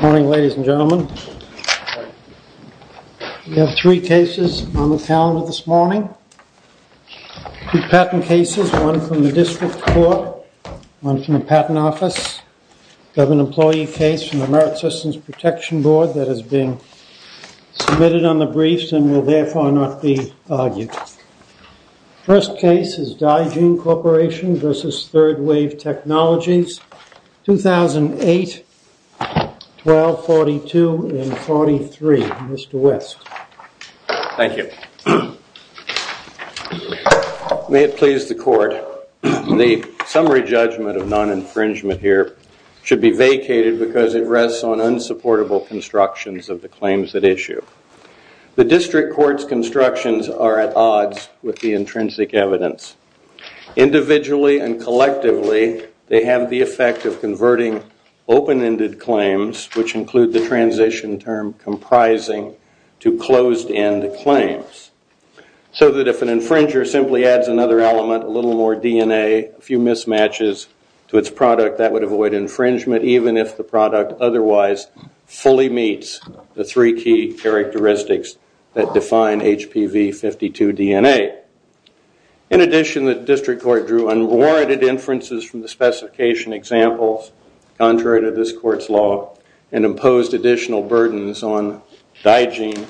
Morning, ladies and gentlemen. We have three cases on the calendar this morning. Two patent cases, one from the district court, one from the patent office. We have an employee case from the Merit Systems Protection Board that has been submitted on the briefs and will therefore not be argued. The first case is Dygene Corporation v. Third Wave Technologies, 2008, 1242 and 43. Mr. West. Thank you. May it please the court, the summary judgment of non-infringement here should be vacated because it rests on the court's constructions are at odds with the intrinsic evidence. Individually and collectively, they have the effect of converting open-ended claims, which include the transition term comprising to closed-end claims. So that if an infringer simply adds another element, a little more DNA, a few mismatches to its product, that would avoid infringement even if the product otherwise fully meets the three key characteristics that define HPV-52 DNA. In addition, the district court drew unwarranted inferences from the specification examples contrary to this court's law and imposed additional burdens on Dygene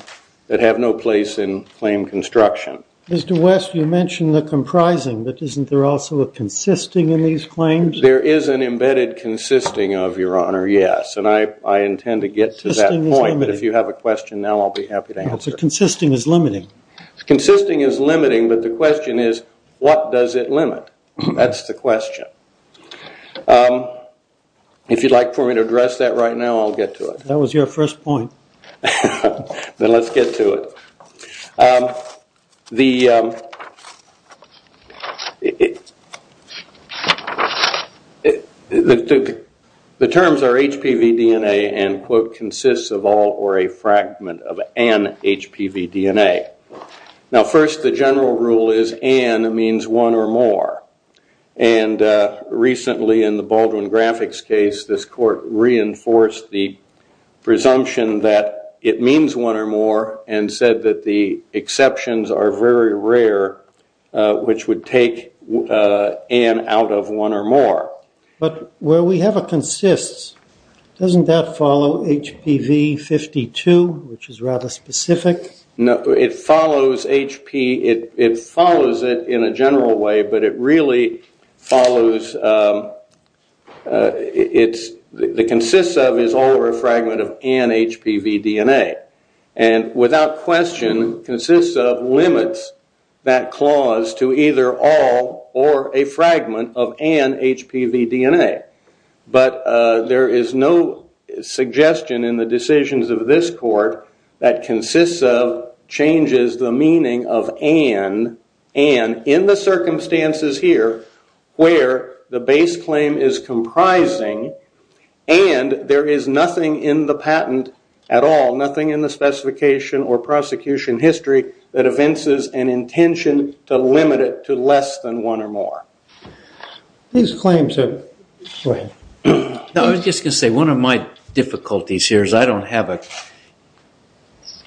that have no place in claim construction. Mr. West, you mentioned the comprising, but isn't there also a consisting in these claims? There is an embedded consisting of your honor, yes, and I intend to get to that point, but if you have a question now, I'll be happy to answer. Consisting is limiting. Consisting is limiting, but the question is what does it limit? That's the question. If you'd like for me to address that right now, I'll get to it. That was your first point. Then let's get to it. The terms are HPV DNA and quote consists of all or a fragment of an HPV DNA. First, the general rule is an means one or more. Recently in the Baldwin graphics case, this court reinforced the presumption that it means one or more and said that the exceptions are very rare, which would take an out of one or more. Where we have a consists, doesn't that follow HPV-52, which is rather specific? No, it follows HP. It follows it in a general way, but it really follows. It's the consists of is all or a fragment of an HPV DNA and without question consists of limits that clause to either all or a fragment of an HPV DNA, but there is no suggestion in the decisions of this court that consists of changes the meaning of and in the circumstances here where the base claim is comprising and there is nothing in the patent at all, nothing in the specification or prosecution history that evinces an intention to limit it to less than one or more. These claims are... I was just going to say, one of my difficulties here is I don't have a...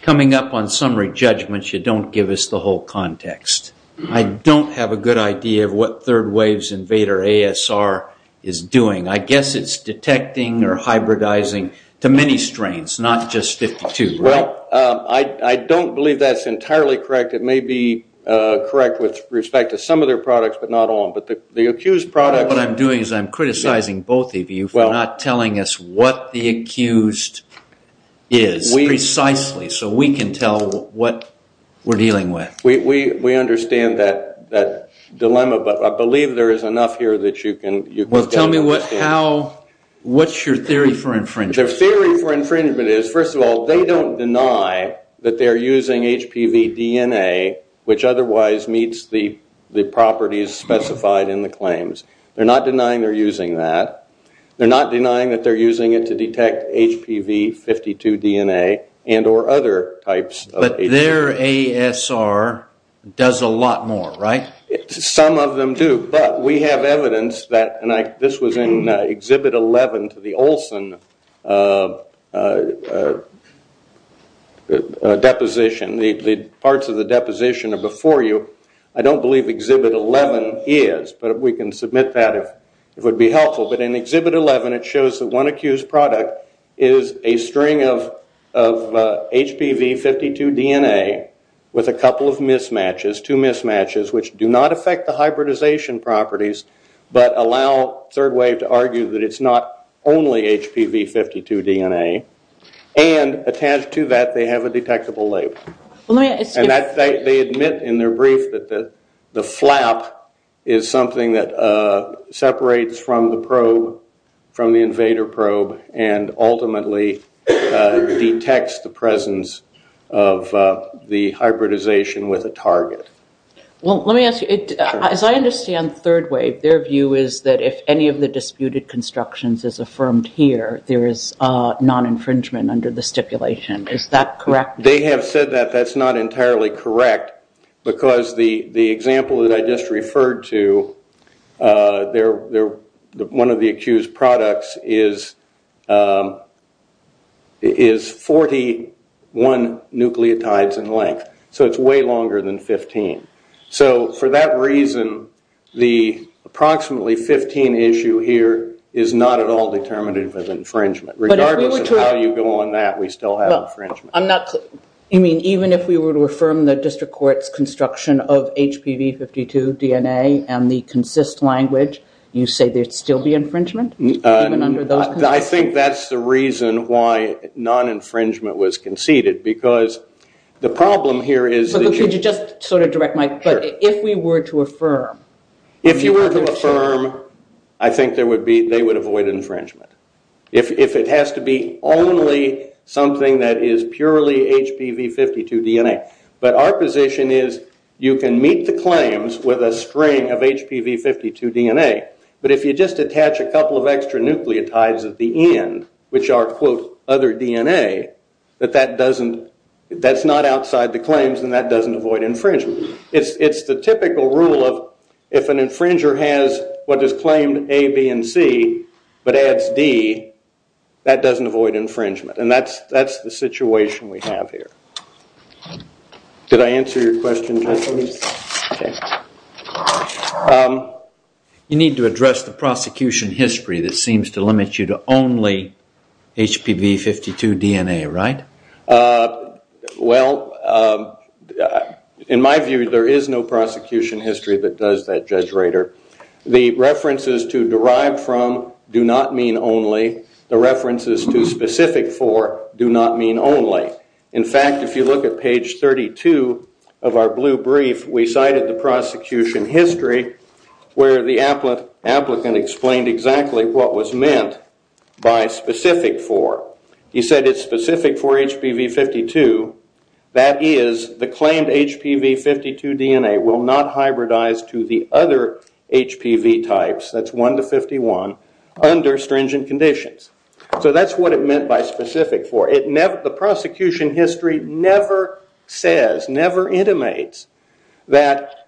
coming up on summary judgments, you don't give us the whole context. I don't have a good idea of what third waves invader ASR is doing. I guess it's detecting or hybridizing to many strains, not just 52. Well, I don't believe that's entirely correct. It may be correct with respect to some of their products, but not all of them, but the accused product... What I'm doing is I'm criticizing both of you for not telling us what the accused is precisely so we can tell what we're dealing with. We understand that dilemma, but I believe there is enough here that you can... Well, tell me what's your theory for infringement? The theory for infringement is, first of all, they don't deny that they're using HPV DNA, which otherwise meets the properties specified in the claims. They're not denying they're using that. They're not denying that they're using it to detect HPV 52 DNA and or other types of... But their ASR does a lot more, right? Some of them do, but we have evidence that, and this was in Exhibit 11 to the Olson deposition. The parts of the deposition are before you. I don't believe Exhibit 11 is, but we can submit that if it would be helpful. But in Exhibit 11, it shows that one accused product is a string of HPV 52 DNA with a couple of mismatches, two mismatches, which do not affect the hybridization properties, but allow Third Wave to argue that it's not only HPV 52 DNA. And attached to that, they have a detectable label. And they admit in their brief that the flap is something that separates from the probe, from the invader probe, and ultimately detects the presence of the hybridization with a target. Well, let me ask you, as I understand Third Wave, their view is that if any of the disputed constructions is affirmed here, there is non-infringement under the stipulation. Is that correct? They have said that that's not entirely correct because the example that I just referred to, one of the accused products is 41 nucleotides in length. So it's way longer than 15. So for that reason, the approximately 15 issue here is not at all determinative of infringement. Regardless of how you go on that, we still have infringement. You mean even if we were to affirm the district court's construction of HPV 52 DNA and the consist language, you say there'd still be infringement even under those conditions? I think that's the reason why non-infringement was conceded because the problem here is- Could you just sort of direct my- Sure. If we were to affirm- If you were to affirm, I think they would avoid infringement. If it has to be only something that is purely HPV 52 DNA. But our position is you can meet the claims with a string of HPV 52 DNA, but if you just attach a couple of extra nucleotides at the end, which are quote other DNA, that's not outside the claims and that doesn't avoid infringement. It's the typical rule of if an infringer has what is claimed A, B, and C, but adds D, that doesn't avoid infringement. And that's the situation we have here. Did I answer your question, gentlemen? You need to address the prosecution history that seems to limit you to only HPV 52 DNA, right? Well, in my view, there is no prosecution history that does that, Judge Rader. The references to derive from do not mean only. The references to specific for do not mean only. In fact, if you look at page 32 of our blue brief, we cited the prosecution history where the applicant explained exactly what was meant by specific for. He said it's specific for HPV 52. That is, the claimed HPV 52 DNA will not hybridize to the other HPV types, that's 1 to 51, under stringent conditions. So that's what it meant by specific for. The prosecution history never says, never intimates that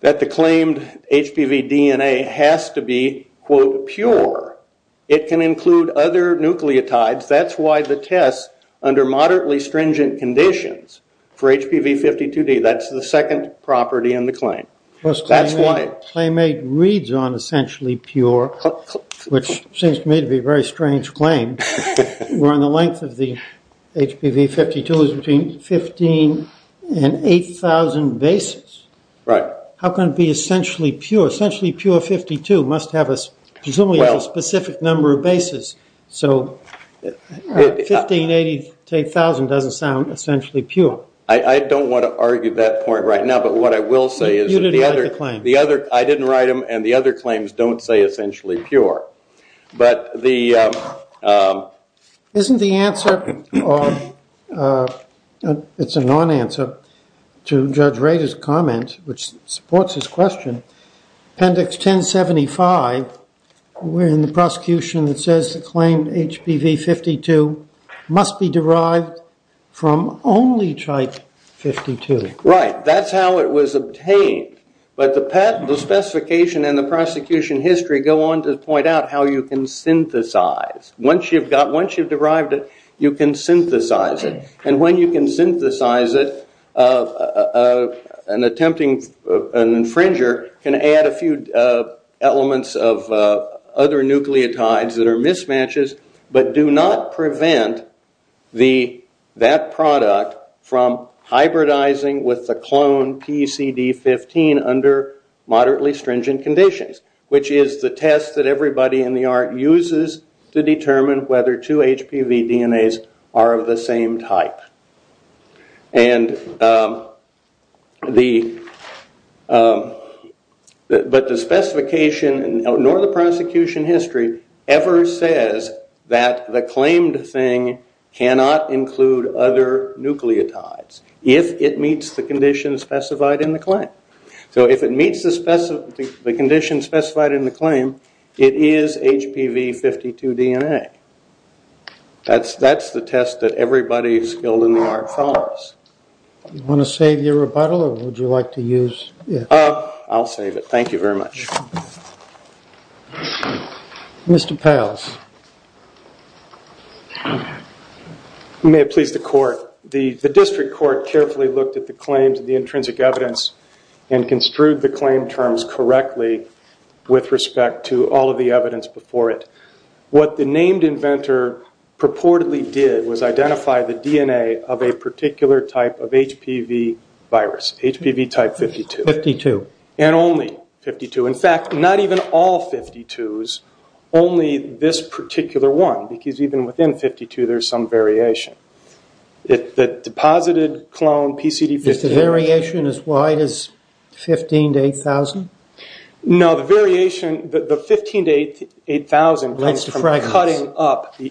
the claimed HPV DNA has to be, quote, pure. It can include other nucleotides. That's why the test under moderately stringent conditions for HPV 52D, that's the second property in the claim. Claim 8 reads on essentially pure, which seems to me to be a very strange claim, where the length of the HPV 52 is between 15 and 8,000 bases. How can it be essentially pure? Essentially pure 52 must have presumably a specific number of bases. So 15, 8,000 doesn't sound essentially pure. I don't want to argue that point right now. But what I will say is I didn't write them, and the other claims don't say essentially pure. But the- Isn't the answer, it's a non-answer to Judge Rader's comment, which supports his question, Appendix 1075 in the prosecution that says the claimed HPV 52 must be derived from only type 52. Right. That's how it was obtained. But the specification and the prosecution history go on to point out how you can synthesize. Once you've derived it, you can synthesize it. And when you can synthesize it, an infringer can add a few elements of other nucleotides that are mismatches, but do not prevent that product from hybridizing with the clone PCD15 under moderately stringent conditions, which is the test that everybody in the art uses to determine whether two HPV DNAs are of the same type. And the- But the specification nor the prosecution history ever says that the claimed thing cannot include other nucleotides if it meets the conditions specified in the claim. So if it meets the conditions specified in the claim, it is HPV 52 DNA. That's the test that everybody skilled in the art follows. Do you want to save your rebuttal or would you like to use it? I'll save it. Thank you very much. Mr. Pals. You may have pleased the court. The district court carefully looked at the claims of the intrinsic evidence and construed the claim terms correctly with respect to all of the evidence before it. What the named inventor purportedly did was identify the DNA of a particular type of HPV virus, HPV type 52. 52. And only 52. In fact, not even all 52s, only this particular one, because even within 52 there's some variation. The deposited clone PCD15- Is the variation as wide as 15 to 8,000? No, the variation, the 15 to 8,000 comes from cutting up the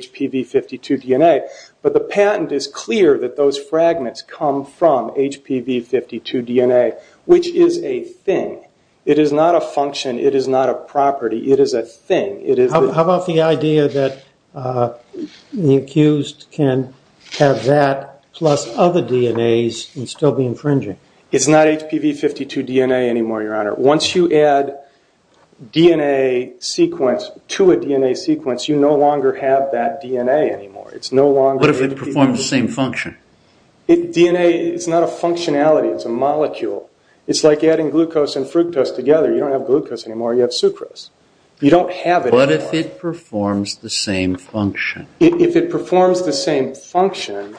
HPV 52 DNA. But the patent is clear that those fragments come from HPV 52 DNA, which is a thing. It is not a function. It is not a property. It is a thing. How about the idea that the accused can have that plus other DNAs and still be infringing? It's not HPV 52 DNA anymore, Your Honor. Once you add DNA sequence to a DNA sequence, you no longer have that DNA anymore. It's no longer- What if it performs the same function? DNA is not a functionality. It's a molecule. It's like adding glucose and fructose together. You don't have glucose anymore. You have sucrose. You don't have it anymore. What if it performs the same function? If it performs the same function,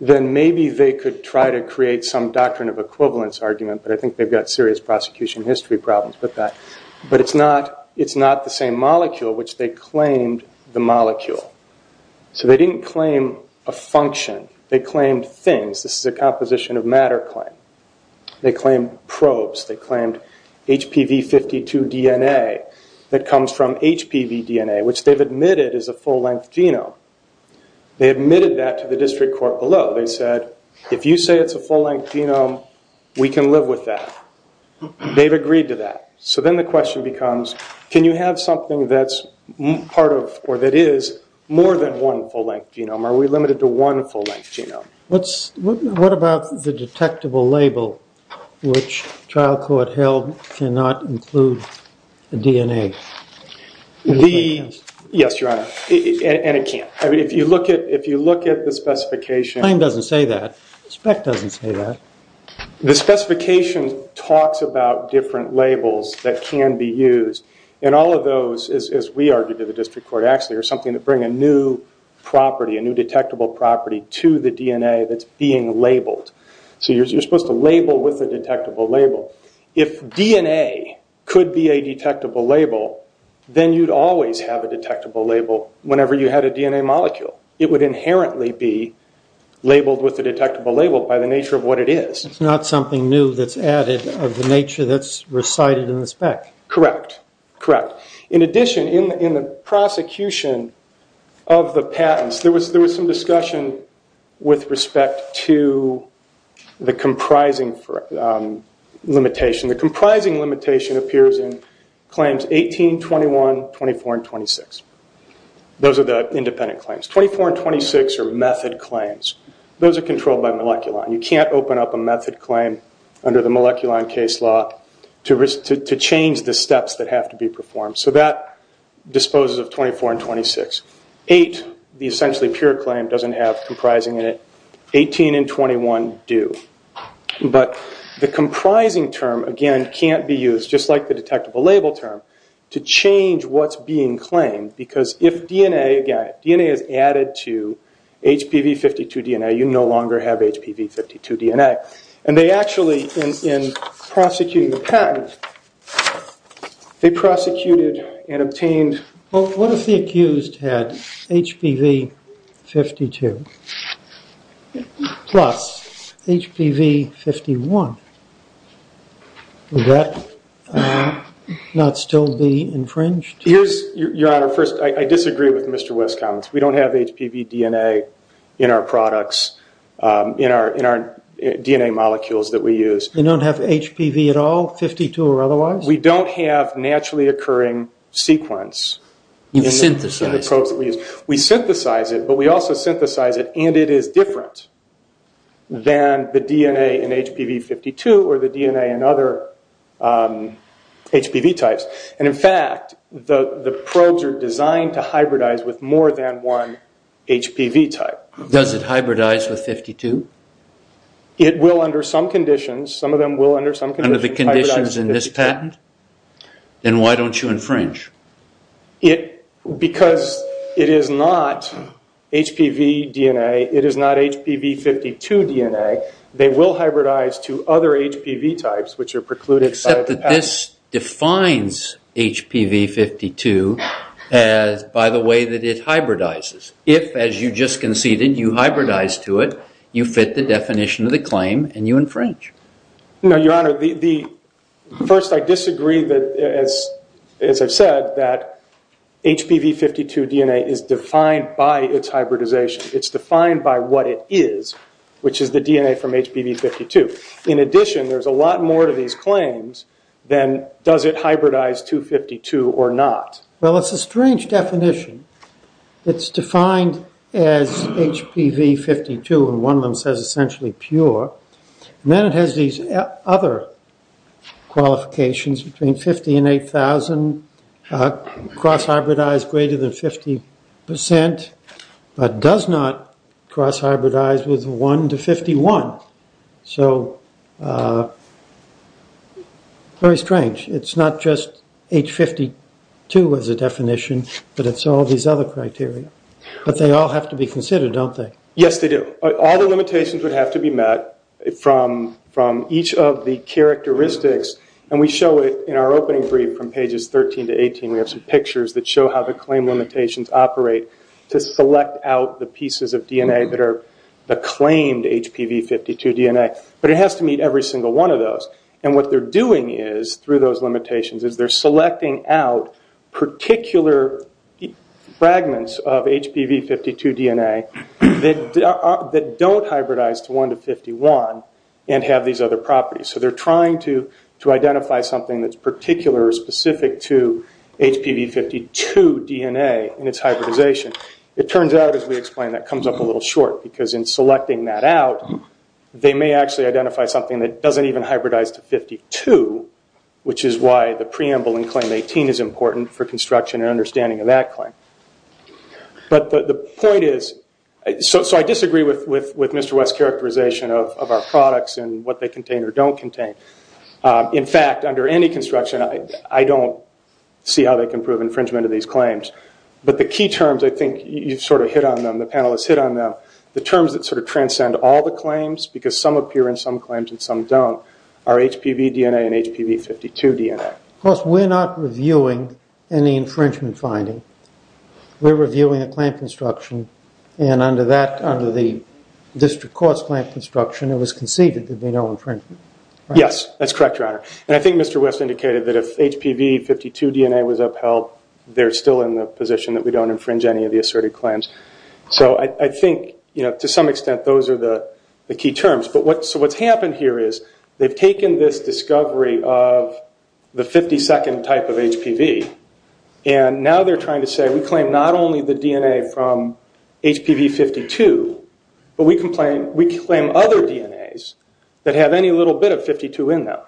then maybe they could try to create some doctrine of equivalence argument, but I think they've got serious prosecution history problems with that. But it's not the same molecule, which they claimed the molecule. So they didn't claim a function. They claimed things. This is a composition of matter claim. They claimed probes. They claimed HPV 52 DNA that comes from HPV DNA, which they've admitted is a full-length genome. They admitted that to the district court below. They said, if you say it's a full-length genome, we can live with that. They've agreed to that. So then the question becomes, can you have something that's part of or that is more than one full-length genome? Are we limited to one full-length genome? What about the detectable label, which trial court held cannot include the DNA? Yes, Your Honor. And it can't. If you look at the specification. The claim doesn't say that. The spec doesn't say that. The specification talks about different labels that can be used. And all of those, as we argued to the district court, actually are something that bring a new property, a new detectable property to the DNA that's being labeled. So you're supposed to label with a detectable label. If DNA could be a detectable label, then you'd always have a detectable label whenever you had a DNA molecule. It would inherently be labeled with a detectable label by the nature of what it is. It's not something new that's added of the nature that's recited in the spec. Correct, correct. In addition, in the prosecution of the patents, there was some discussion with respect to the comprising limitation. The comprising limitation appears in Claims 18, 21, 24, and 26. Those are the independent claims. 24 and 26 are method claims. Those are controlled by Moleculon. You can't open up a method claim under the Moleculon case law to change the steps that have to be performed. So that disposes of 24 and 26. Eight, the essentially pure claim, doesn't have comprising in it. 18 and 21 do. But the comprising term, again, can't be used, just like the detectable label term, to change what's being claimed. Because if DNA is added to HPV-52 DNA, you no longer have HPV-52 DNA. And they actually, in prosecuting the patent, they prosecuted and obtained... Well, what if the accused had HPV-52 plus HPV-51? Would that not still be infringed? Your Honor, first, I disagree with Mr. West's comments. We don't have HPV DNA in our products, in our DNA molecules that we use. You don't have HPV at all, 52 or otherwise? We don't have naturally occurring sequence. You synthesize it. We synthesize it, but we also synthesize it, and it is different than the DNA in HPV-52 or the DNA in other HPV types. And, in fact, the probes are designed to hybridize with more than one HPV type. Does it hybridize with 52? It will under some conditions. Some of them will under some conditions. Under the conditions in this patent? Then why don't you infringe? Because it is not HPV DNA. It is not HPV-52 DNA. This defines HPV-52 by the way that it hybridizes. If, as you just conceded, you hybridize to it, you fit the definition of the claim and you infringe. No, Your Honor. First, I disagree that, as I've said, that HPV-52 DNA is defined by its hybridization. It's defined by what it is, which is the DNA from HPV-52. In addition, there's a lot more to these claims than does it hybridize to 52 or not. Well, it's a strange definition. It's defined as HPV-52, and one of them says essentially pure. Then it has these other qualifications between 50 and 8,000, cross-hybridized greater than 50 percent, but does not cross-hybridize with 1 to 51. So, very strange. It's not just H52 as a definition, but it's all these other criteria. But they all have to be considered, don't they? Yes, they do. All the limitations would have to be met from each of the characteristics, and we show it in our opening brief from pages 13 to 18. We have some pictures that show how the claim limitations operate to select out the pieces of DNA that are the claimed HPV-52 DNA, but it has to meet every single one of those. And what they're doing is, through those limitations, is they're selecting out particular fragments of HPV-52 DNA that don't hybridize to 1 to 51 and have these other properties. So they're trying to identify something that's particular or specific to HPV-52 DNA and its hybridization. It turns out, as we explained, that comes up a little short, because in selecting that out, they may actually identify something that doesn't even hybridize to 52, which is why the preamble in Claim 18 is important for construction and understanding of that claim. But the point is, so I disagree with Mr. West's characterization of our products and what they contain or don't contain. In fact, under any construction, I don't see how they can prove infringement of these claims. But the key terms, I think you sort of hit on them, the panelists hit on them, the terms that sort of transcend all the claims, because some appear in some claims and some don't, are HPV DNA and HPV-52 DNA. Of course, we're not reviewing any infringement finding. We're reviewing a claim construction, and under the district court's claim construction, it was conceded there'd be no infringement. Yes, that's correct, Your Honor. And I think Mr. West indicated that if HPV-52 DNA was upheld, they're still in the position that we don't infringe any of the asserted claims. So I think, to some extent, those are the key terms. So what's happened here is they've taken this discovery of the 52nd type of HPV, and now they're trying to say we claim not only the DNA from HPV-52, but we claim other DNAs that have any little bit of 52 in them,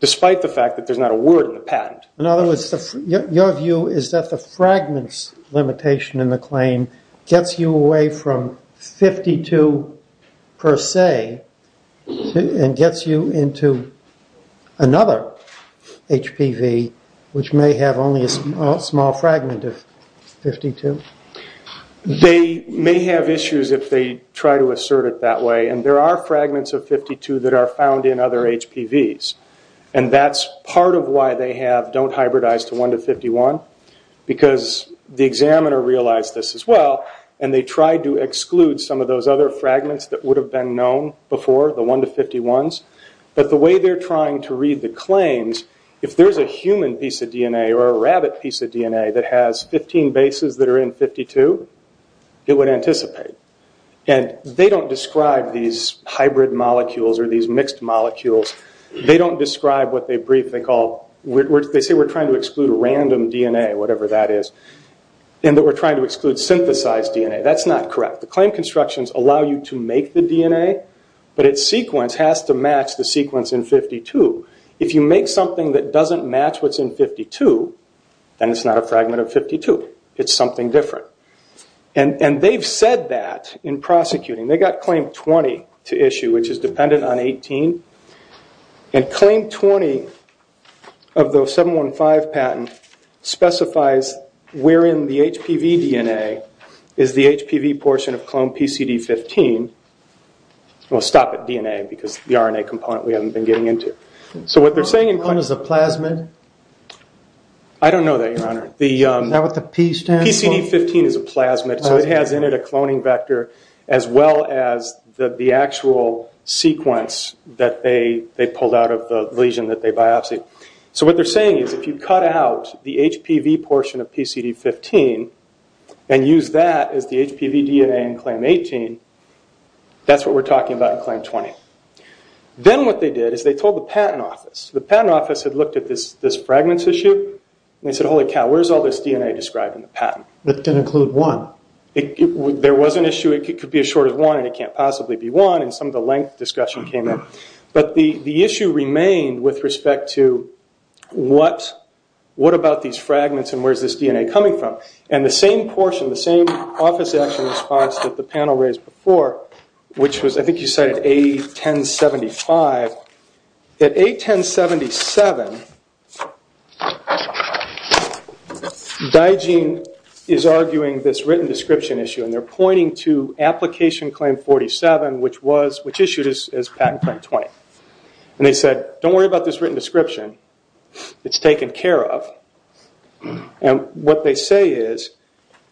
despite the fact that there's not a word in the patent. In other words, your view is that the fragments limitation in the claim gets you away from 52 per se and gets you into another HPV, which may have only a small fragment of 52? They may have issues if they try to assert it that way, and there are fragments of 52 that are found in other HPVs, and that's part of why they have don't hybridize to 1 to 51, because the examiner realized this as well, and they tried to exclude some of those other fragments that would have been known before, the 1 to 51s, but the way they're trying to read the claims, if there's a human piece of DNA or a rabbit piece of DNA that has 15 bases that are in 52, it would anticipate. They don't describe these hybrid molecules or these mixed molecules. They don't describe what they say we're trying to exclude random DNA, whatever that is, and that we're trying to exclude synthesized DNA. That's not correct. The claim constructions allow you to make the DNA, but its sequence has to match the sequence in 52. If you make something that doesn't match what's in 52, then it's not a fragment of 52. It's something different, and they've said that in prosecuting. They got claim 20 to issue, which is dependent on 18, and claim 20 of those 715 patents specifies where in the HPV DNA is the HPV portion of clone PCD15. We'll stop at DNA because the RNA component we haven't been getting into. So what they're saying... Clone is a plasmid? I don't know that, Your Honor. Is that what the P stands for? PCD15 is a plasmid, so it has in it a cloning vector as well as the actual sequence that they pulled out of the lesion that they biopsied. So what they're saying is if you cut out the HPV portion of PCD15 and use that as the HPV DNA in claim 18, that's what we're talking about in claim 20. Then what they did is they told the patent office. The patent office had looked at this fragments issue, and they said, holy cow, where's all this DNA described in the patent? That didn't include one. There was an issue. It could be as short as one, and it can't possibly be one, and some of the length discussion came in. But the issue remained with respect to what about these fragments and where's this DNA coming from? The same portion, the same office action response that the panel raised before, which was I think you cited A1075. At A1077, Digeen is arguing this written description issue, and they're pointing to application claim 47, which issued as patent claim 20. They said, don't worry about this written description. It's taken care of. What they say is,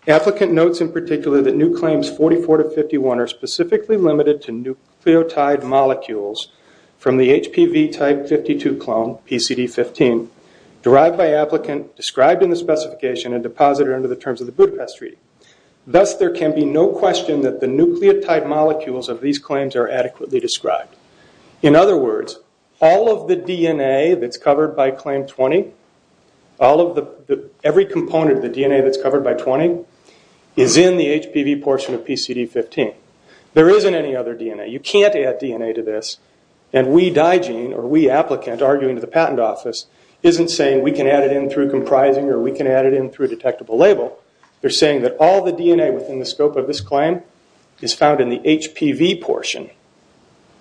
applicant notes in particular that new claims 44 to 51 are specifically limited to nucleotide molecules from the HPV type 52 clone, PCD15, derived by applicant, described in the specification, and deposited under the terms of the Budapest Treaty. Thus, there can be no question that the nucleotide molecules of these claims are adequately described. In other words, all of the DNA that's covered by claim 20, every component of the DNA that's covered by 20, is in the HPV portion of PCD15. There isn't any other DNA. You can't add DNA to this, and we, Digeen, or we, applicant, arguing to the patent office, isn't saying we can add it in through comprising or we can add it in through detectable label. They're saying that all the DNA within the scope of this claim is found in the HPV portion,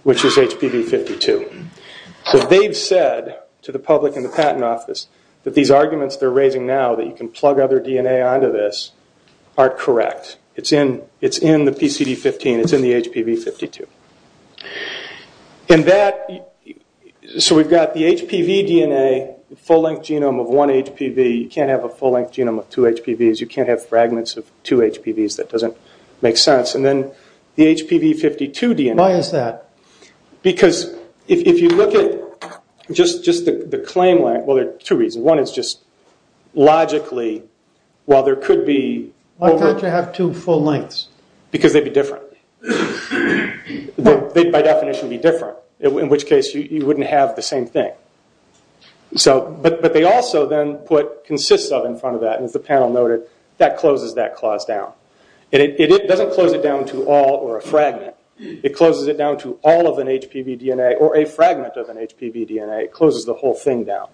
which is HPV52. So they've said to the public and the patent office that these arguments they're raising now, that you can plug other DNA onto this, are correct. It's in the PCD15. It's in the HPV52. So we've got the HPV DNA, the full-length genome of one HPV. You can't have a full-length genome of two HPVs. You can't have fragments of two HPVs. That doesn't make sense. And then the HPV52 DNA. Why is that? Because if you look at just the claim line, well, there are two reasons. One is just logically, while there could be... Why can't you have two full lengths? Because they'd be different. They'd, by definition, be different, in which case you wouldn't have the same thing. But they also then put consists of in front of that, and as the panel noted, that closes that clause down. It doesn't close it down to all or a fragment. It closes it down to all of an HPV DNA or a fragment of an HPV DNA. It closes the whole thing down.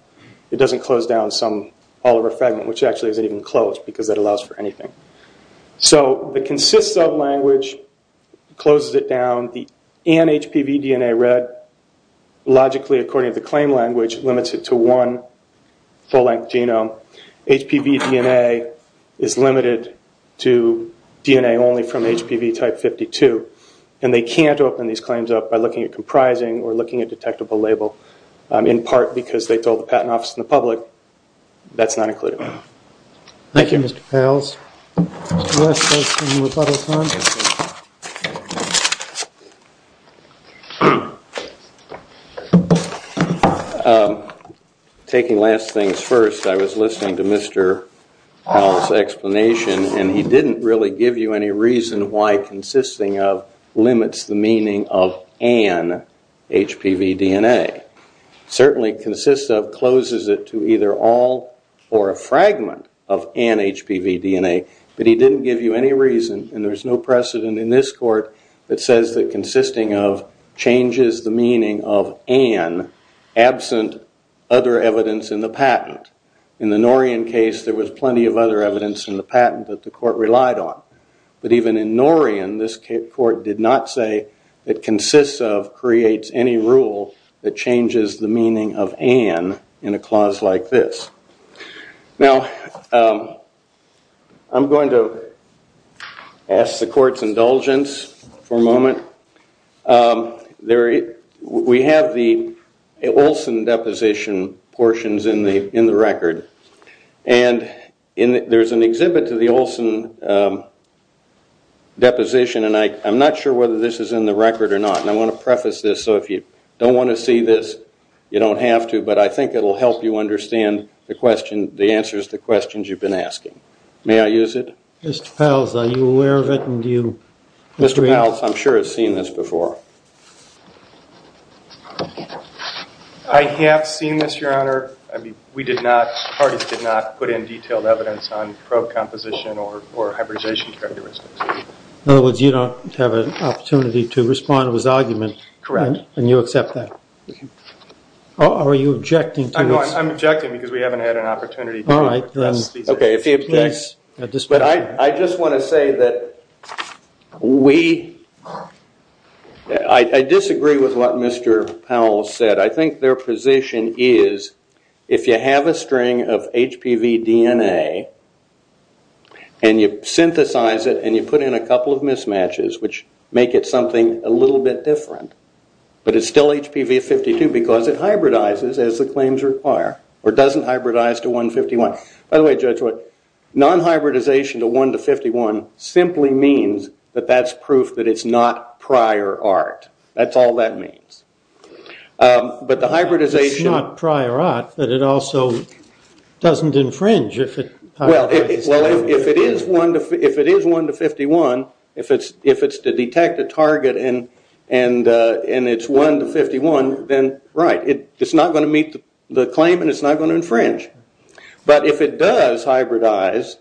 It doesn't close down all of a fragment, which actually isn't even closed because that allows for anything. So the consists of language closes it down. The an HPV DNA read, logically, according to the claim language, limits it to one full-length genome. HPV DNA is limited to DNA only from HPV type 52, and they can't open these claims up by looking at comprising or looking at detectable label, in part because they told the Patent Office and the public that's not included. Thank you, Mr. Pales. Mr. West has some rebuttal time. Taking last things first, I was listening to Mr. Powell's explanation, and he didn't really give you any reason why consisting of limits the meaning of an HPV DNA. Certainly consists of closes it to either all or a fragment of an HPV DNA, but he didn't give you any reason, and there's no precedent in this court, that says that consisting of changes the meaning of an, absent other evidence in the patent. In the Norian case, there was plenty of other evidence in the patent that the court relied on. But even in Norian, this court did not say that consists of creates any rule that changes the meaning of an in a clause like this. Now, I'm going to ask the court's indulgence for a moment. We have the Olson deposition portions in the record, and there's an exhibit to the Olson deposition, and I'm not sure whether this is in the record or not. And I want to preface this, so if you don't want to see this, you don't have to, but I think it will help you understand the question, the answers to questions you've been asking. May I use it? Mr. Powell, are you aware of it, and do you agree? Mr. Powell, I'm sure has seen this before. I have seen this, Your Honor. I mean, we did not, parties did not put in detailed evidence on probe composition or hybridization characteristics. In other words, you don't have an opportunity to respond to his argument. Correct. And you accept that. Are you objecting to this? I'm objecting because we haven't had an opportunity to. All right. But I just want to say that we, I disagree with what Mr. Powell said. I think their position is, if you have a string of HPV DNA, and you synthesize it, and you put in a couple of mismatches, which make it something a little bit different, but it's still HPV 52 because it hybridizes as the claims require, or doesn't hybridize to 151. By the way, Judge Wood, non-hybridization to 151 simply means that that's proof that it's not prior art. That's all that means. But the hybridization. It's not prior art, but it also doesn't infringe. Well, if it is one to 51, if it's to detect a target and it's one to 51, then right. It's not going to meet the claim and it's not going to infringe. But if it does hybridize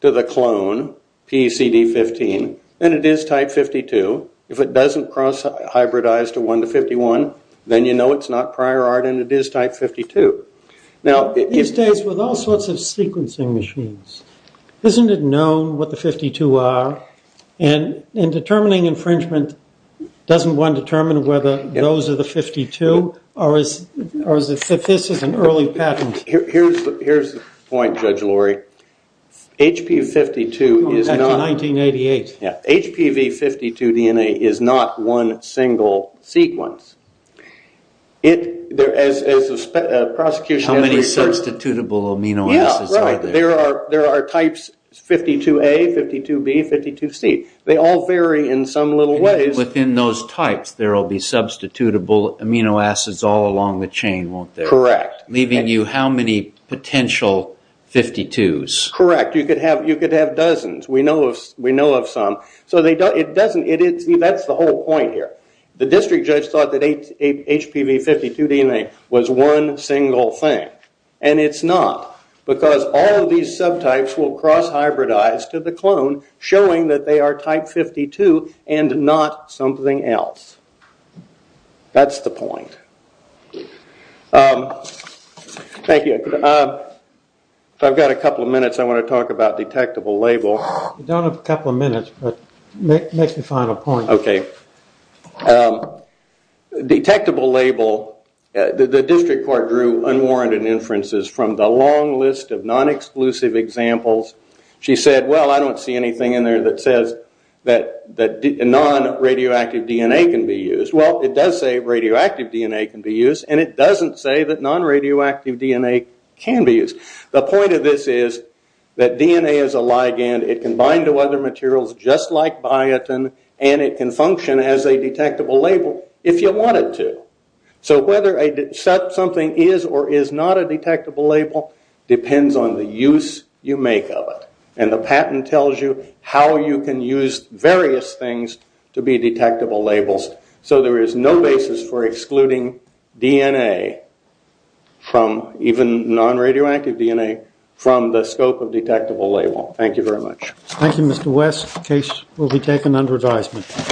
to the clone, PCD 15, then it is type 52. If it doesn't cross hybridize to one to 51, then you know it's not prior art and it is type 52. These days with all sorts of sequencing machines, isn't it known what the 52 are? In determining infringement, doesn't one determine whether those are the 52 or if this is an early patent? Here's the point, Judge Lurie. HPV 52 DNA is not one single sequence. How many substitutable amino acids are there? There are types 52A, 52B, 52C. They all vary in some little ways. Within those types, there will be substitutable amino acids all along the chain, won't there? Correct. Leaving you how many potential 52s? Correct. You could have dozens. We know of some. That's the whole point here. The district judge thought that HPV 52 DNA was one single thing and it's not. Because all of these subtypes will cross hybridize to the clone, showing that they are type 52 and not something else. That's the point. Thank you. I've got a couple of minutes. I want to talk about detectable label. You don't have a couple of minutes, but make the final point. Okay. Detectable label. The district court drew unwarranted inferences from the long list of non-exclusive examples. She said, well, I don't see anything in there that says that non-radioactive DNA can be used. Well, it does say radioactive DNA can be used, and it doesn't say that non-radioactive DNA can be used. The point of this is that DNA is a ligand. It can bind to other materials just like biotin, and it can function as a detectable label if you want it to. Whether something is or is not a detectable label depends on the use you make of it. The patent tells you how you can use various things to be detectable labels. So there is no basis for excluding DNA from even non-radioactive DNA from the scope of detectable label. Thank you very much. Thank you, Mr. West. The case will be taken under advisement.